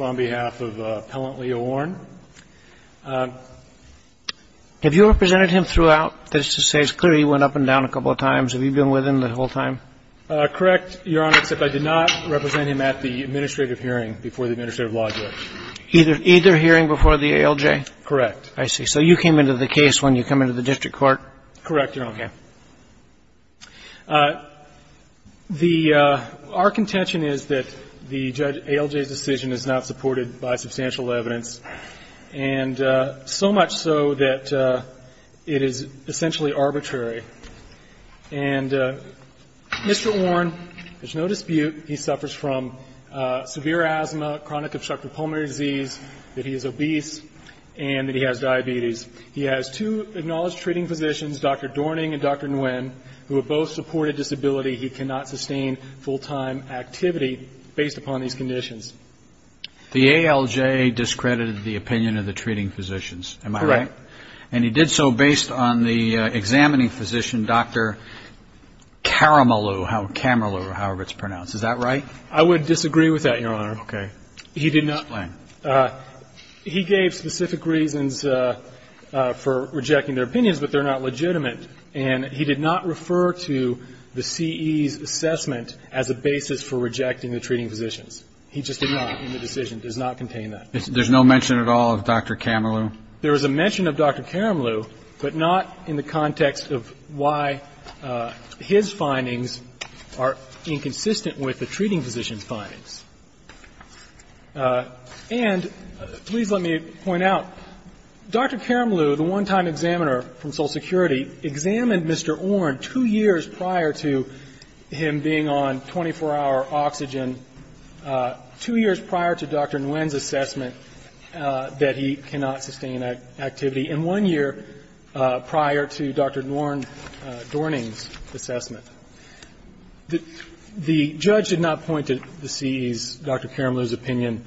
on behalf of Appellant Leo Orn. Have you represented him throughout? That is to say, it's clear he went up and down a couple of times. Have you been with him the whole time? Correct, Your Honor, except I did not represent him at the administrative hearing before the administrative law judge. Either hearing before the ALJ? Correct. I see. So you came into the case when you come into the district court? Correct, Your Honor. Our contention is that the ALJ's decision is not supported by substantial evidence, and so much so that it is essentially arbitrary. And Mr. Orn, there's no dispute he suffers from severe asthma, chronic obstructive pulmonary disease, that he is obese, and that he has diabetes. He has two acknowledged treating physicians, Dr. Dorning and Dr. Nguyen, who have both supported disability. He cannot sustain full-time activity based upon these conditions. The ALJ discredited the opinion of the treating physicians, am I right? Correct. And he did so based on the examining physician, Dr. Kammerlew, however it's pronounced. Is that right? I would disagree with that, Your Honor. Okay. Explain. He gave specific reasons for rejecting their opinions, but they're not legitimate, and he did not refer to the C.E.'s assessment as a basis for rejecting the treating physicians. He just did not in the decision. It does not contain that. There's no mention at all of Dr. Kammerlew? There is a mention of Dr. Kammerlew, but not in the context of why his findings are inconsistent with the treating physician's findings. And, please let me point out, Dr. Kammerlew, the one-time examiner from Social Security, examined Mr. Orn two years prior to him being on 24-hour oxygen, two years prior to Dr. Nguyen's assessment that he cannot sustain activity, and one year prior to Dr. Nguyen Dorning's assessment. The judge did not point to the C.E.'s, Dr. Kammerlew's opinion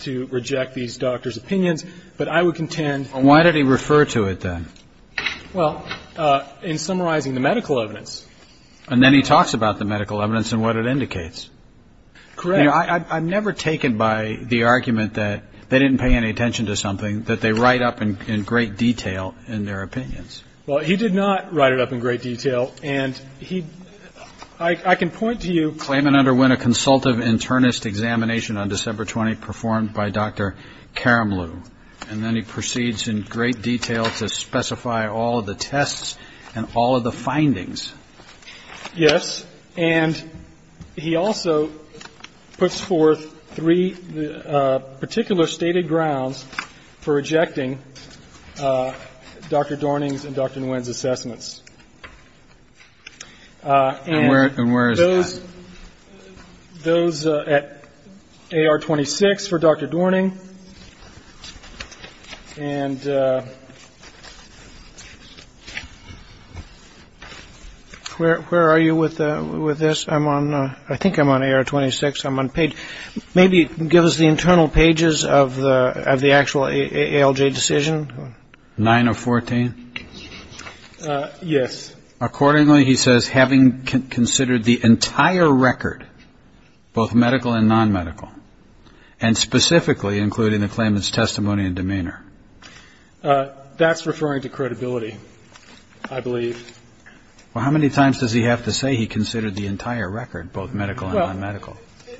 to reject these doctors' opinions, but I would contend. Why did he refer to it, then? Well, in summarizing the medical evidence. And then he talks about the medical evidence and what it indicates. Correct. I'm never taken by the argument that they didn't pay any attention to something, that they write up in great detail in their opinions. Well, he did not write it up in great detail. And he, I can point to you. Claimant underwent a consultative internist examination on December 20th, performed by Dr. Kammerlew. And then he proceeds in great detail to specify all of the tests and all of the findings. Yes. And he also puts forth three particular stated grounds for rejecting Dr. Dorning's and Dr. Nguyen's assessments. And where is that? Those at AR 26 for Dr. Dorning. And where are you with this? I think I'm on AR 26. Maybe give us the internal pages of the actual ALJ decision. 9 of 14? Yes. Accordingly, he says, having considered the entire record, both medical and non-medical, and specifically including the claimant's testimony and demeanor. That's referring to credibility, I believe. Well, how many times does he have to say he considered the entire record, both medical and non-medical?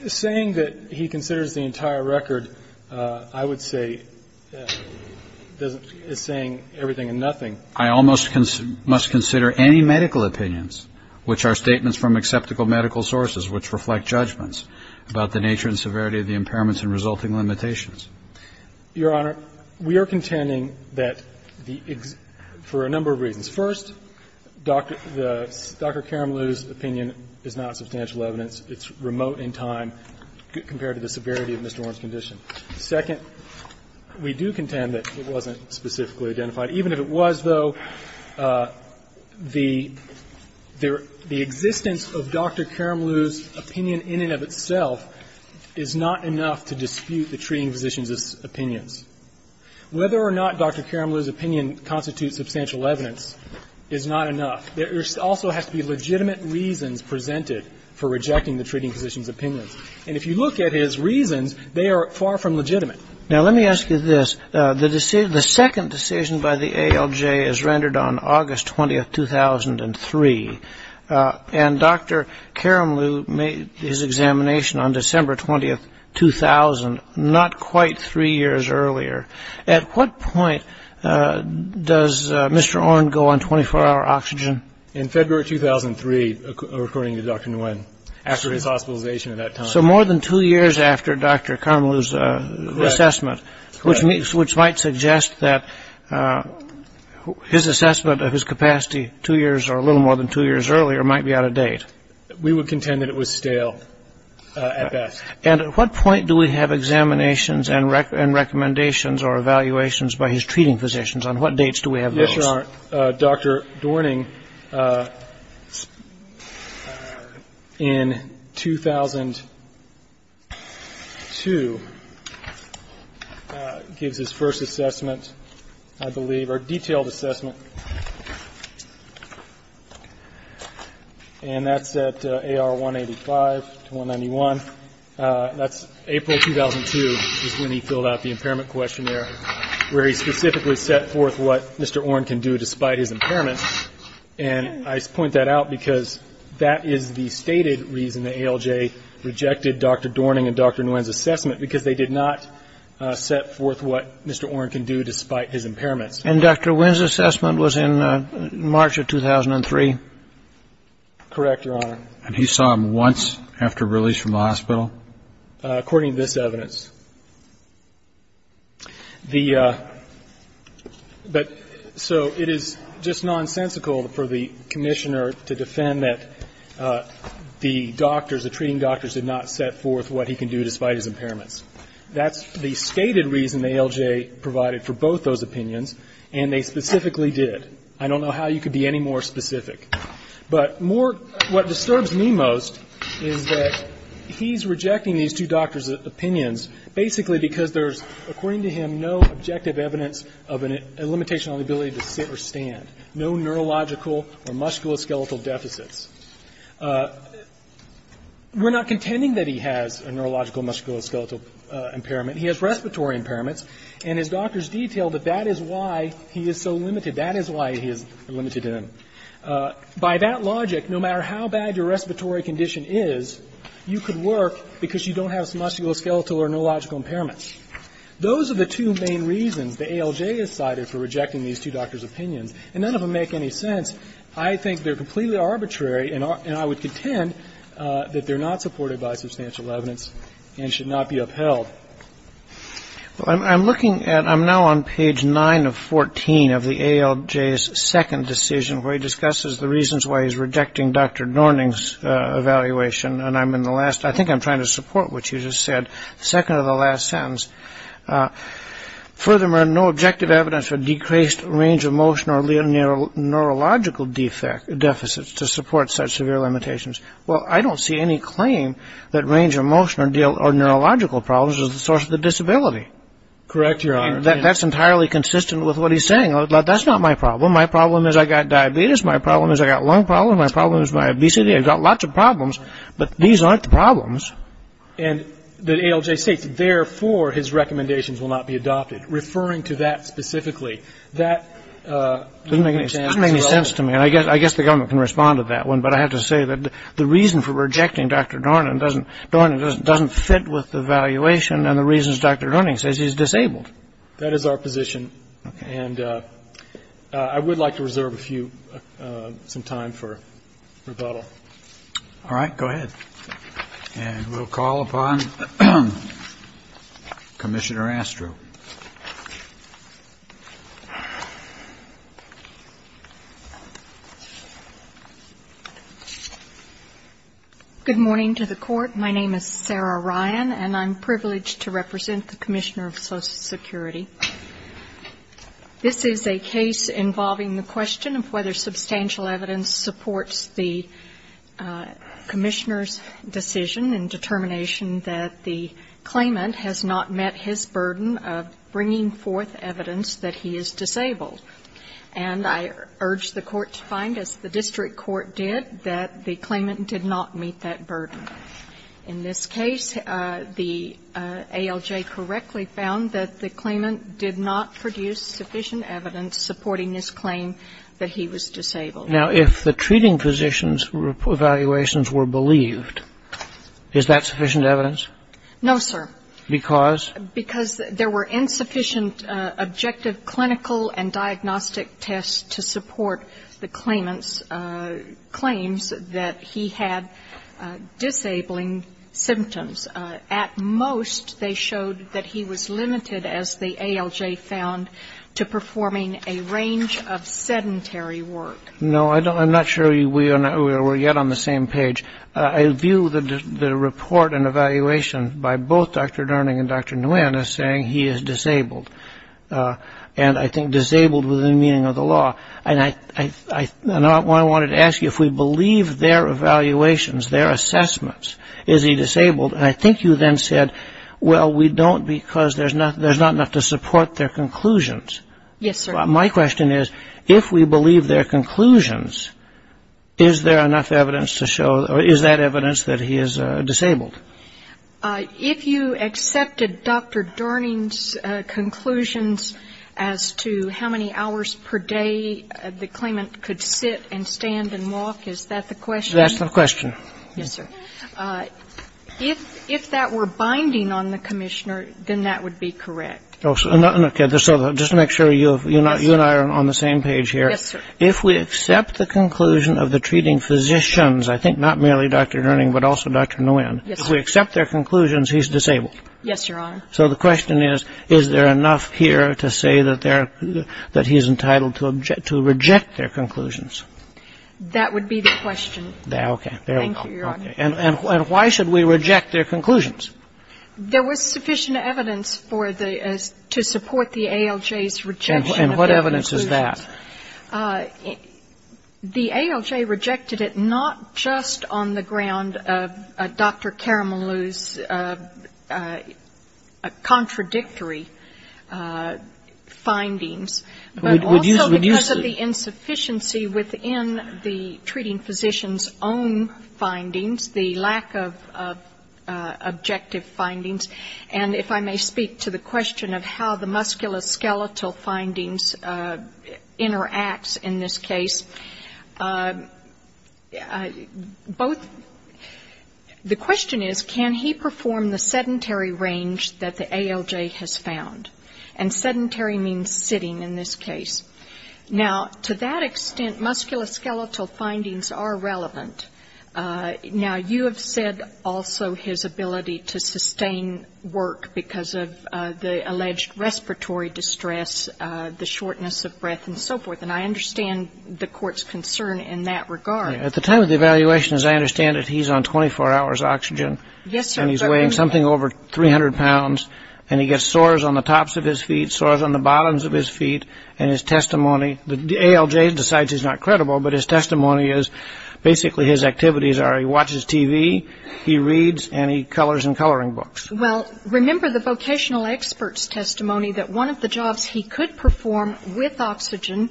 Saying that he considers the entire record, I would say, is saying everything and nothing. I almost must consider any medical opinions, which are statements from acceptable medical sources, which reflect judgments about the nature and severity of the impairments and resulting limitations. Your Honor, we are contending that the ex ---- for a number of reasons. First, Dr. Karamlu's opinion is not substantial evidence. It's remote in time compared to the severity of Mr. Warren's condition. Second, we do contend that it wasn't specifically identified. Even if it was, though, the existence of Dr. Karamlu's opinion in and of itself is not enough to dispute the treating physician's opinions. Whether or not Dr. Karamlu's opinion constitutes substantial evidence is not enough. There also has to be legitimate reasons presented for rejecting the treating physician's opinions. And if you look at his reasons, they are far from legitimate. Now, let me ask you this. The second decision by the ALJ is rendered on August 20, 2003. And Dr. Karamlu made his examination on December 20, 2000, not quite three years earlier. At what point does Mr. Warren go on 24-hour oxygen? In February 2003, according to Dr. Nguyen, after his hospitalization at that time. So more than two years after Dr. Karamlu's assessment, which might suggest that his assessment of his capacity two years or a little more than two years earlier might be out of date. We would contend that it was stale at best. And at what point do we have examinations and recommendations or evaluations by his treating physicians? On what dates do we have those? Dr. Dorning, in 2002, gives his first assessment, I believe, or detailed assessment. And that's at AR 185 to 191. That's April 2002 is when he filled out the impairment questionnaire, where he specifically set forth what Mr. Warren can do despite his impairment. And I point that out because that is the stated reason the ALJ rejected Dr. Dorning and Dr. Nguyen's assessment, because they did not set forth what Mr. Warren can do despite his impairments. And Dr. Nguyen's assessment was in March of 2003? Correct, Your Honor. And he saw him once after release from the hospital? According to this evidence. So it is just nonsensical for the commissioner to defend that the doctors, the treating doctors did not set forth what he can do despite his impairments. That's the stated reason the ALJ provided for both those opinions, and they specifically did. I don't know how you could be any more specific. But more, what disturbs me most is that he's rejecting these two doctors' opinions, basically because there's, according to him, no objective evidence of a limitation on the ability to sit or stand, no neurological or musculoskeletal deficits. We're not contending that he has a neurological, musculoskeletal impairment. He has respiratory impairments. And his doctors detail that that is why he is so limited. That is why he is limited to them. By that logic, no matter how bad your respiratory condition is, you could work because you don't have a musculoskeletal or neurological impairment. Those are the two main reasons the ALJ has cited for rejecting these two doctors' opinions, and none of them make any sense. I think they're completely arbitrary, and I would contend that they're not supported by substantial evidence and should not be upheld. Well, I'm looking at, I'm now on page 9 of 14 of the ALJ's second decision, where he discusses the reasons why he's rejecting Dr. Dorning's evaluation, and I'm in the last, I think I'm trying to support what you just said, second to the last sentence. Furthermore, no objective evidence for decreased range of motion or neurological deficits to support such severe limitations. Well, I don't see any claim that range of motion or neurological problems is the source of the disability. Correct, Your Honor. That's entirely consistent with what he's saying. That's not my problem. My problem is I got diabetes. My problem is I got lung problems. My problem is my obesity. I've got lots of problems, but these aren't the problems. And the ALJ states, therefore, his recommendations will not be adopted, referring to that specifically. That doesn't make any sense to me, and I guess the government can respond to that one, but I have to say that the reason for rejecting Dr. Dorning doesn't fit with the evaluation and the reasons Dr. Dorning says he's disabled. That is our position, and I would like to reserve a few, some time for rebuttal. All right, go ahead, and we'll call upon Commissioner Astrow. Good morning to the Court. My name is Sarah Ryan, and I'm privileged to represent the Commissioner of Social Security. This is a case involving the question of whether substantial evidence supports the Commissioner's decision and determination that the claimant has not met his burden of bringing forth evidence that he is disabled. And I urge the Court to find, as the district court did, that the claimant did not meet that burden. In this case, the ALJ correctly found that the claimant did not produce sufficient evidence supporting his claim that he was disabled. Now, if the treating physician's evaluations were believed, is that sufficient evidence? No, sir. Because? Because there were insufficient objective clinical and diagnostic tests to support the claimant's claims that he had disabling symptoms. At most, they showed that he was limited, as the ALJ found, to performing a range of sedentary work. No, I'm not sure we're yet on the same page. I view the report and evaluation by both Dr. Dorning and Dr. Nguyen as saying he is disabled, and I think disabled within the meaning of the law. And I wanted to ask you, if we believe their evaluations, their assessments, is he disabled? And I think you then said, well, we don't because there's not enough to support their conclusions. Yes, sir. My question is, if we believe their conclusions, is there enough evidence to show or is that evidence that he is disabled? If you accepted Dr. Dorning's conclusions as to how many hours per day the claimant could sit and stand and walk, is that the question? That's the question. Yes, sir. If that were binding on the commissioner, then that would be correct. Okay. Just to make sure you and I are on the same page here. Yes, sir. If we accept the conclusion of the treating physicians, I think not merely Dr. Dorning but also Dr. Nguyen, if we accept their conclusions, he's disabled. Yes, Your Honor. So the question is, is there enough here to say that he's entitled to reject their conclusions? That would be the question. Okay. Thank you, Your Honor. And why should we reject their conclusions? There was sufficient evidence to support the ALJ's rejection of their conclusions. And what evidence is that? The ALJ rejected it not just on the ground of Dr. Caramelou's contradictory findings. But also because of the insufficiency within the treating physician's own findings, the lack of objective findings. And if I may speak to the question of how the musculoskeletal findings interacts in this case, both the question is, can he perform the sedentary range that the ALJ has found? And sedentary means sitting in this case. Now, to that extent, musculoskeletal findings are relevant. Now, you have said also his ability to sustain work because of the alleged respiratory distress, the shortness of breath, and so forth. And I understand the Court's concern in that regard. At the time of the evaluation, as I understand it, he's on 24 hours oxygen. Yes, sir. And he's weighing something over 300 pounds. And he gets sores on the tops of his feet, sores on the bottoms of his feet. And his testimony, the ALJ decides he's not credible, but his testimony is basically his activities are he watches TV, he reads, and he colors in coloring books. Well, remember the vocational expert's testimony that one of the jobs he could perform with oxygen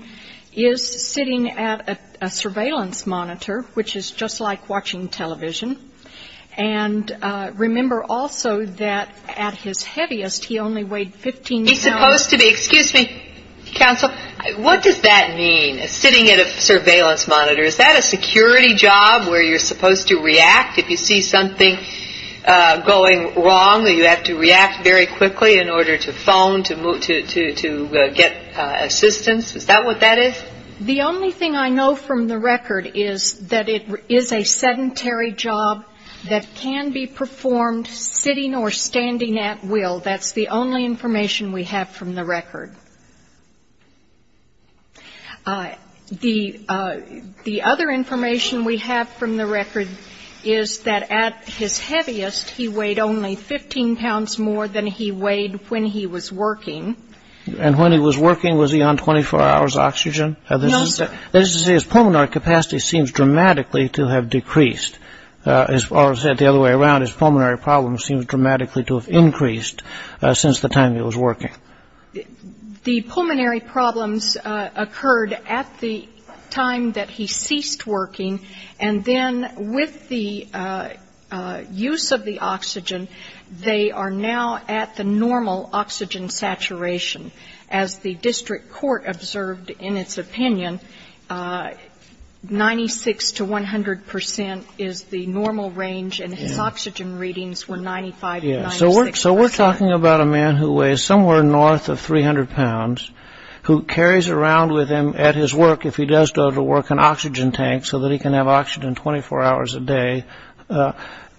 is sitting at a surveillance monitor, which is just like watching television. And remember also that at his heaviest, he only weighed 15 pounds. He's supposed to be. Excuse me, counsel. What does that mean, sitting at a surveillance monitor? Is that a security job where you're supposed to react if you see something going wrong, that you have to react very quickly in order to phone, to get assistance? Is that what that is? The only thing I know from the record is that it is a sedentary job that can be performed sitting or standing at will. That's the only information we have from the record. The other information we have from the record is that at his heaviest, he weighed only 15 pounds more than he weighed when he was working. And when he was working, was he on 24 hours oxygen? No, sir. That is to say, his pulmonary capacity seems dramatically to have decreased. As far as the other way around, his pulmonary problem seems dramatically to have increased since the time he was working. The pulmonary problems occurred at the time that he ceased working. And then with the use of the oxygen, they are now at the normal oxygen saturation. As the district court observed in its opinion, 96 to 100 percent is the normal range, and his oxygen readings were 95 to 96 percent. So we're talking about a man who weighs somewhere north of 300 pounds, who carries around with him at his work, if he does go to work, an oxygen tank so that he can have oxygen 24 hours a day.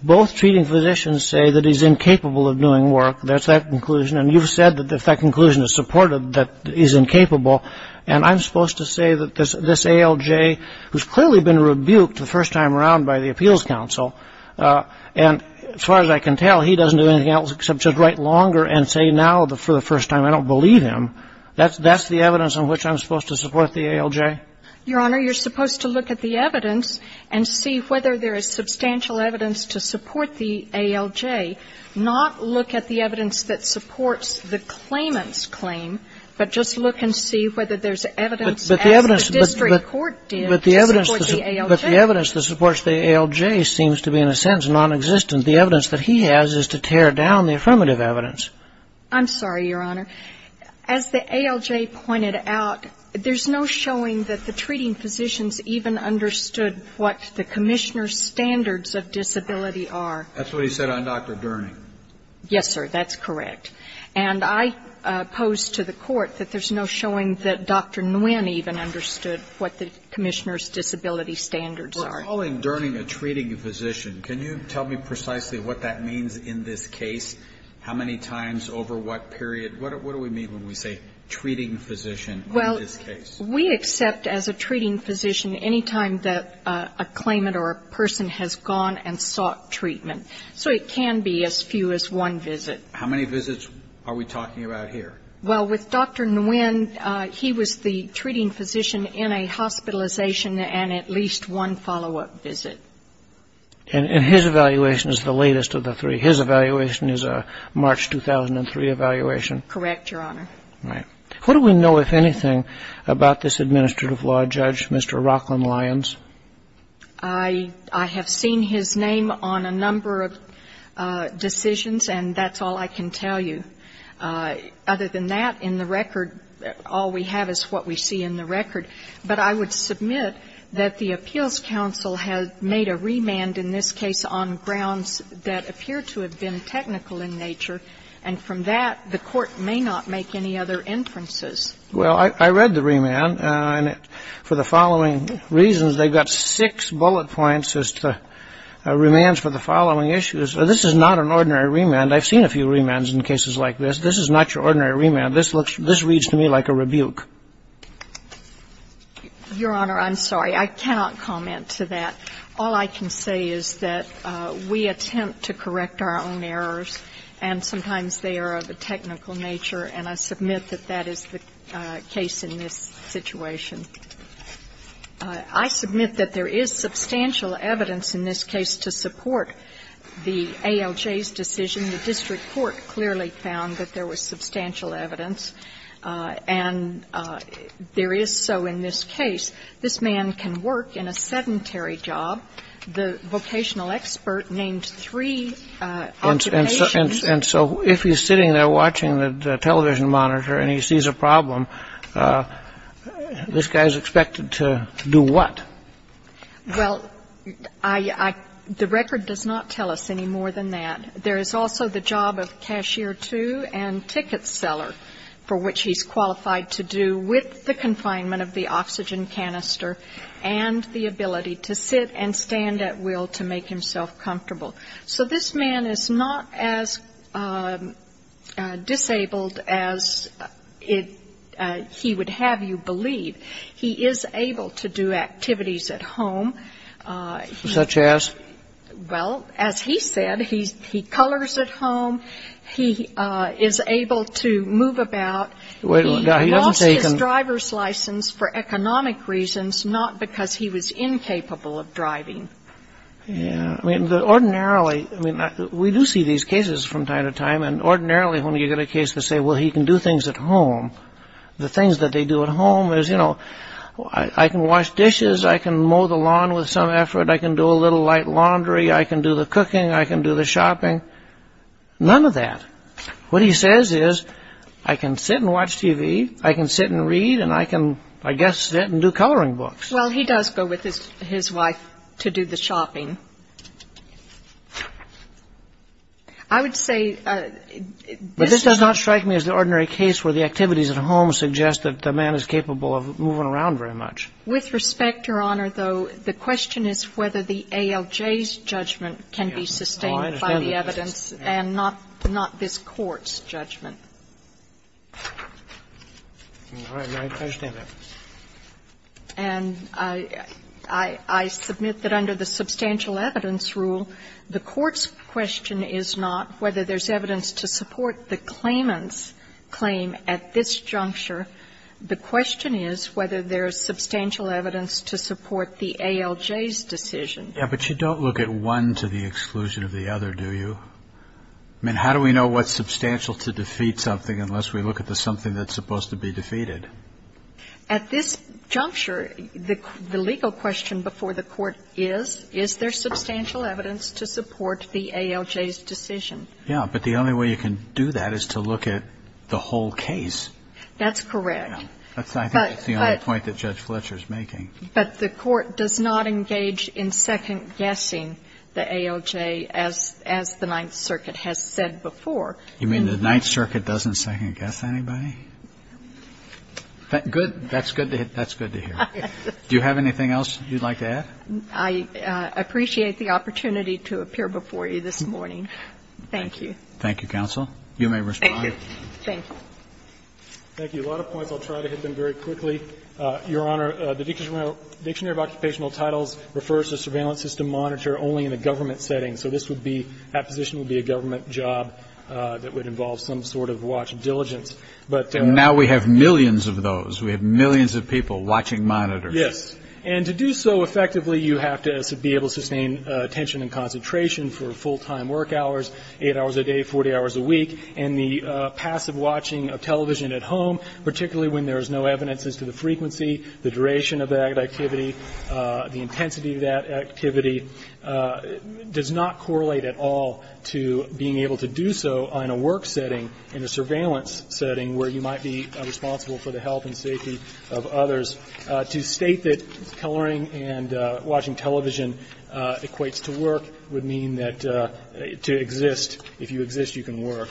Both treating physicians say that he's incapable of doing work. That's that conclusion. And you've said that if that conclusion is supported, that he's incapable. And I'm supposed to say that this ALJ, who's clearly been rebuked the first time around by the Appeals Council, and as far as I can tell, he doesn't do anything else except to write longer and say now for the first time, I don't believe him. That's the evidence on which I'm supposed to support the ALJ? Your Honor, you're supposed to look at the evidence and see whether there is substantial evidence to support the ALJ, not look at the evidence that supports the claimant's claim, but just look and see whether there's evidence, as the district court did, to support the ALJ. But the evidence that supports the ALJ seems to be, in a sense, nonexistent. The evidence that he has is to tear down the affirmative evidence. I'm sorry, Your Honor. As the ALJ pointed out, there's no showing that the treating physicians even understood what the Commissioner's standards of disability are. That's what he said on Dr. Durning. Yes, sir. That's correct. And I pose to the Court that there's no showing that Dr. Nguyen even understood what the Commissioner's disability standards are. We're calling Durning a treating physician. Can you tell me precisely what that means in this case? How many times, over what period? What do we mean when we say treating physician in this case? Well, we accept as a treating physician, any time that a claimant or a person has gone and sought treatment. So it can be as few as one visit. How many visits are we talking about here? Well, with Dr. Nguyen, he was the treating physician in a hospitalization and at least one follow-up visit. And his evaluation is the latest of the three. His evaluation is a March 2003 evaluation? Correct, Your Honor. Right. What do we know, if anything, about this administrative law judge, Mr. Rockland Lyons? I have seen his name on a number of decisions, and that's all I can tell you. Other than that, in the record, all we have is what we see in the record. But I would submit that the Appeals Council has made a remand in this case on grounds that appear to have been technical in nature, and from that, the Court may not make any other inferences. Well, I read the remand, and for the following reasons, they've got six bullet points as to remands for the following issues. This is not an ordinary remand. I've seen a few remands in cases like this. This is not your ordinary remand. This looks to me like a rebuke. Your Honor, I'm sorry. I cannot comment to that. All I can say is that we attempt to correct our own errors, and sometimes they are of a technical nature. And I submit that that is the case in this situation. I submit that there is substantial evidence in this case to support the ALJ's decision. The district court clearly found that there was substantial evidence. And there is so in this case. This man can work in a sedentary job. The vocational expert named three occupations. And so if he's sitting there watching the television monitor and he sees a problem, this guy is expected to do what? Well, the record does not tell us any more than that. There is also the job of cashier two and ticket seller, for which he's qualified to do with the confinement of the oxygen canister and the ability to sit and stand at will to make himself comfortable. So this man is not as disabled as he would have you believe. He is able to do activities at home. Such as? Well, as he said, he colors at home. He is able to move about. He lost his driver's license for economic reasons, not because he was incapable of driving. I mean, ordinarily, we do see these cases from time to time. And ordinarily, when you get a case to say, well, he can do things at home, the things that they do at home is, you know, I can wash dishes. I can mow the lawn with some effort. I can do a little light laundry. I can do the cooking. I can do the shopping. None of that. What he says is, I can sit and watch TV. I can sit and read. And I can, I guess, sit and do coloring books. Well, he does go with his wife to do the shopping. I would say this is not. But this does not strike me as the ordinary case where the activities at home suggest that the man is capable of moving around very much. With respect, Your Honor, though, the question is whether the ALJ's judgment can be sustained by the evidence and not this court's judgment. All right. I understand that. And I submit that under the substantial evidence rule, the court's question is not whether there's evidence to support the claimant's claim at this juncture. The question is whether there is substantial evidence to support the ALJ's decision. Yes, but you don't look at one to the exclusion of the other, do you? I mean, how do we know what's substantial to defeat something unless we look at the something that's supposed to be defeated? At this juncture, the legal question before the court is, is there substantial evidence to support the ALJ's decision? Yes. But the only way you can do that is to look at the whole case. That's correct. I think that's the only point that Judge Fletcher is making. But the court does not engage in second-guessing the ALJ, as the Ninth Circuit has said before. You mean the Ninth Circuit doesn't second-guess anybody? Good. That's good to hear. Do you have anything else you'd like to add? I appreciate the opportunity to appear before you this morning. Thank you. Thank you, counsel. You may respond. Thank you. Thank you. Thank you. A lot of points, I'll try to hit them very quickly. Your Honor, the Dictionary of Occupational Titles refers to surveillance system monitor only in a government setting. So this would be, that position would be a government job that would involve some sort of watch diligence. And now we have millions of those. We have millions of people watching monitors. Yes. And to do so effectively, you have to be able to sustain attention and concentration for full-time work hours, eight hours a day, 40 hours a week. And the passive watching of television at home, particularly when there is no evidence as to the frequency, the duration of that activity, the intensity of that activity, does not correlate at all to being able to do so in a work setting, in a surveillance setting where you might be responsible for the health and safety of others. To state that coloring and watching television equates to work would mean that to exist. If you exist, you can work.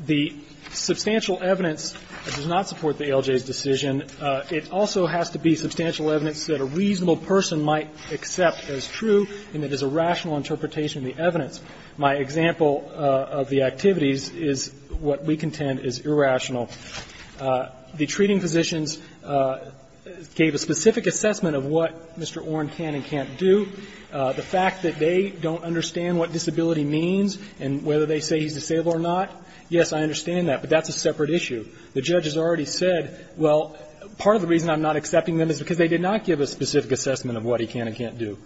The substantial evidence does not support the ALJ's decision. It also has to be substantial evidence that a reasonable person might accept as true and that is a rational interpretation of the evidence. My example of the activities is what we contend is irrational. The treating physicians gave a specific assessment of what Mr. Oren can and can't do. The fact that they don't understand what disability means and whether they say he's disabled or not, yes, I understand that, but that's a separate issue. The judge has already said, well, part of the reason I'm not accepting them is because they did not give a specific assessment of what he can and can't do.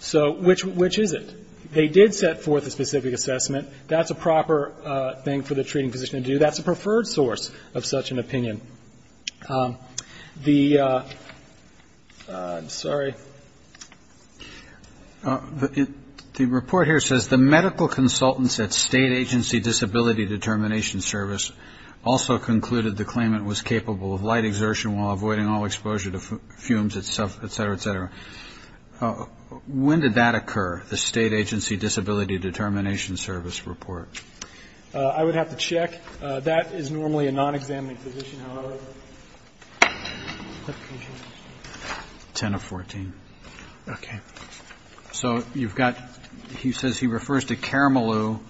So which is it? They did set forth a specific assessment. That's a proper thing for the treating physician to do. That's a preferred source of such an opinion. The ‑‑ I'm sorry. The report here says, the medical consultants at State Agency Disability Determination Service also concluded the claimant was capable of light exertion while avoiding all exposure to fumes, et cetera, et cetera. When did that occur, the State Agency Disability Determination Service report? I would have to check. That is normally a non‑examining physician, however. 10 of 14. Okay. So you've got ‑‑ he says he refers to Caramello,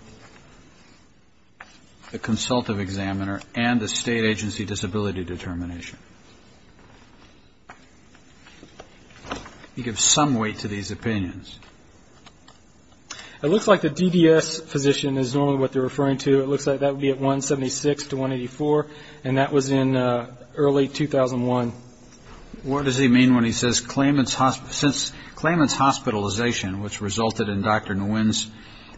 the consultative examiner, and the State Agency Disability Determination. He gives some weight to these opinions. It looks like the DDS physician is normally what they're referring to. It looks like that would be at 176 to 184, and that was in early 2001. So what does he mean when he says claimant's hospitalization, which resulted in Dr. Nguyen's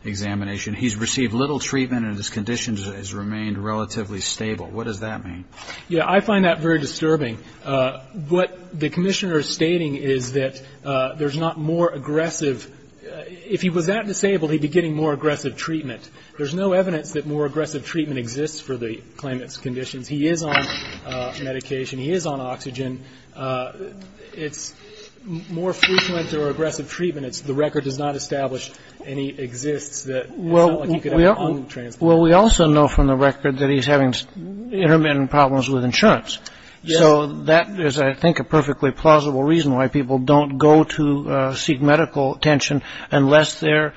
examination, he's received little treatment and his condition has remained relatively stable. What does that mean? Yeah, I find that very disturbing. What the commissioner is stating is that there's not more aggressive ‑‑ if he was that disabled, he'd be getting more aggressive treatment. There's no evidence that more aggressive treatment exists for the claimant's conditions. He is on medication. He is on oxygen. It's more frequent or aggressive treatment. The record does not establish any exists that sound like he could have on the transplant. Well, we also know from the record that he's having intermittent problems with insurance. Yes. So that is, I think, a perfectly plausible reason why people don't go to seek medical attention unless they're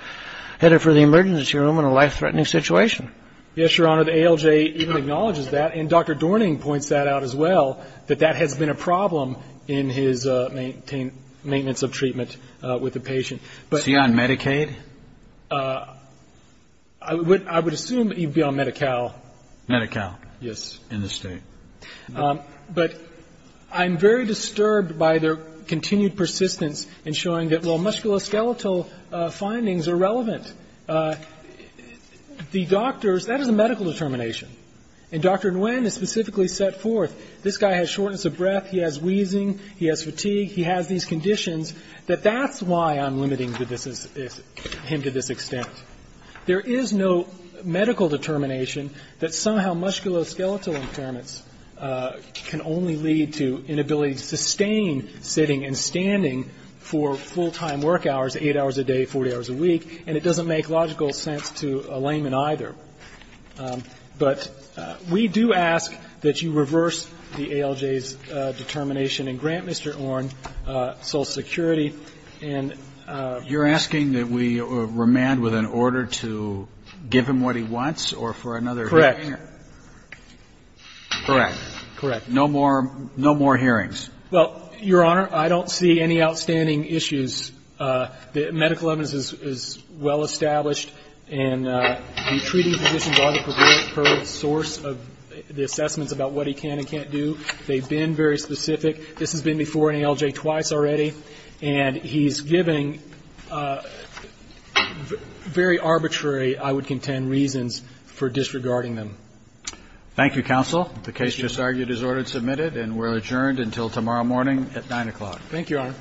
headed for the emergency room in a life‑threatening situation. Yes, Your Honor. The ALJ even acknowledges that. And Dr. Dorning points that out as well, that that has been a problem in his maintenance of treatment with the patient. Is he on Medicaid? I would assume he'd be on MediCal. MediCal. Yes. In the state. But I'm very disturbed by their continued persistence in showing that, well, musculoskeletal findings are relevant. The doctors, that is a medical determination. And Dr. Nguyen has specifically set forth, this guy has shortness of breath, he has wheezing, he has fatigue, he has these conditions, that that's why I'm limiting him to this extent. There is no medical determination that somehow musculoskeletal impairments can only lead to inability to sustain sitting and standing for full‑time work hours, eight hours a day, 40 hours a week, and it doesn't make logical sense to a layman either. But we do ask that you reverse the ALJ's determination and grant Mr. Orn social security. And ‑‑ You're asking that we remand with an order to give him what he wants or for another hearing? Correct. Correct. Correct. No more hearings. Well, Your Honor, I don't see any outstanding issues. The medical evidence is well established, and the treating physicians are the perfect source of the assessments about what he can and can't do. They've been very specific. This has been before an ALJ twice already, and he's giving very arbitrary, I would contend, reasons for disregarding them. Thank you, counsel. The case just argued is ordered and submitted, and we're adjourned until tomorrow morning at 9 o'clock. Thank you, Your Honor.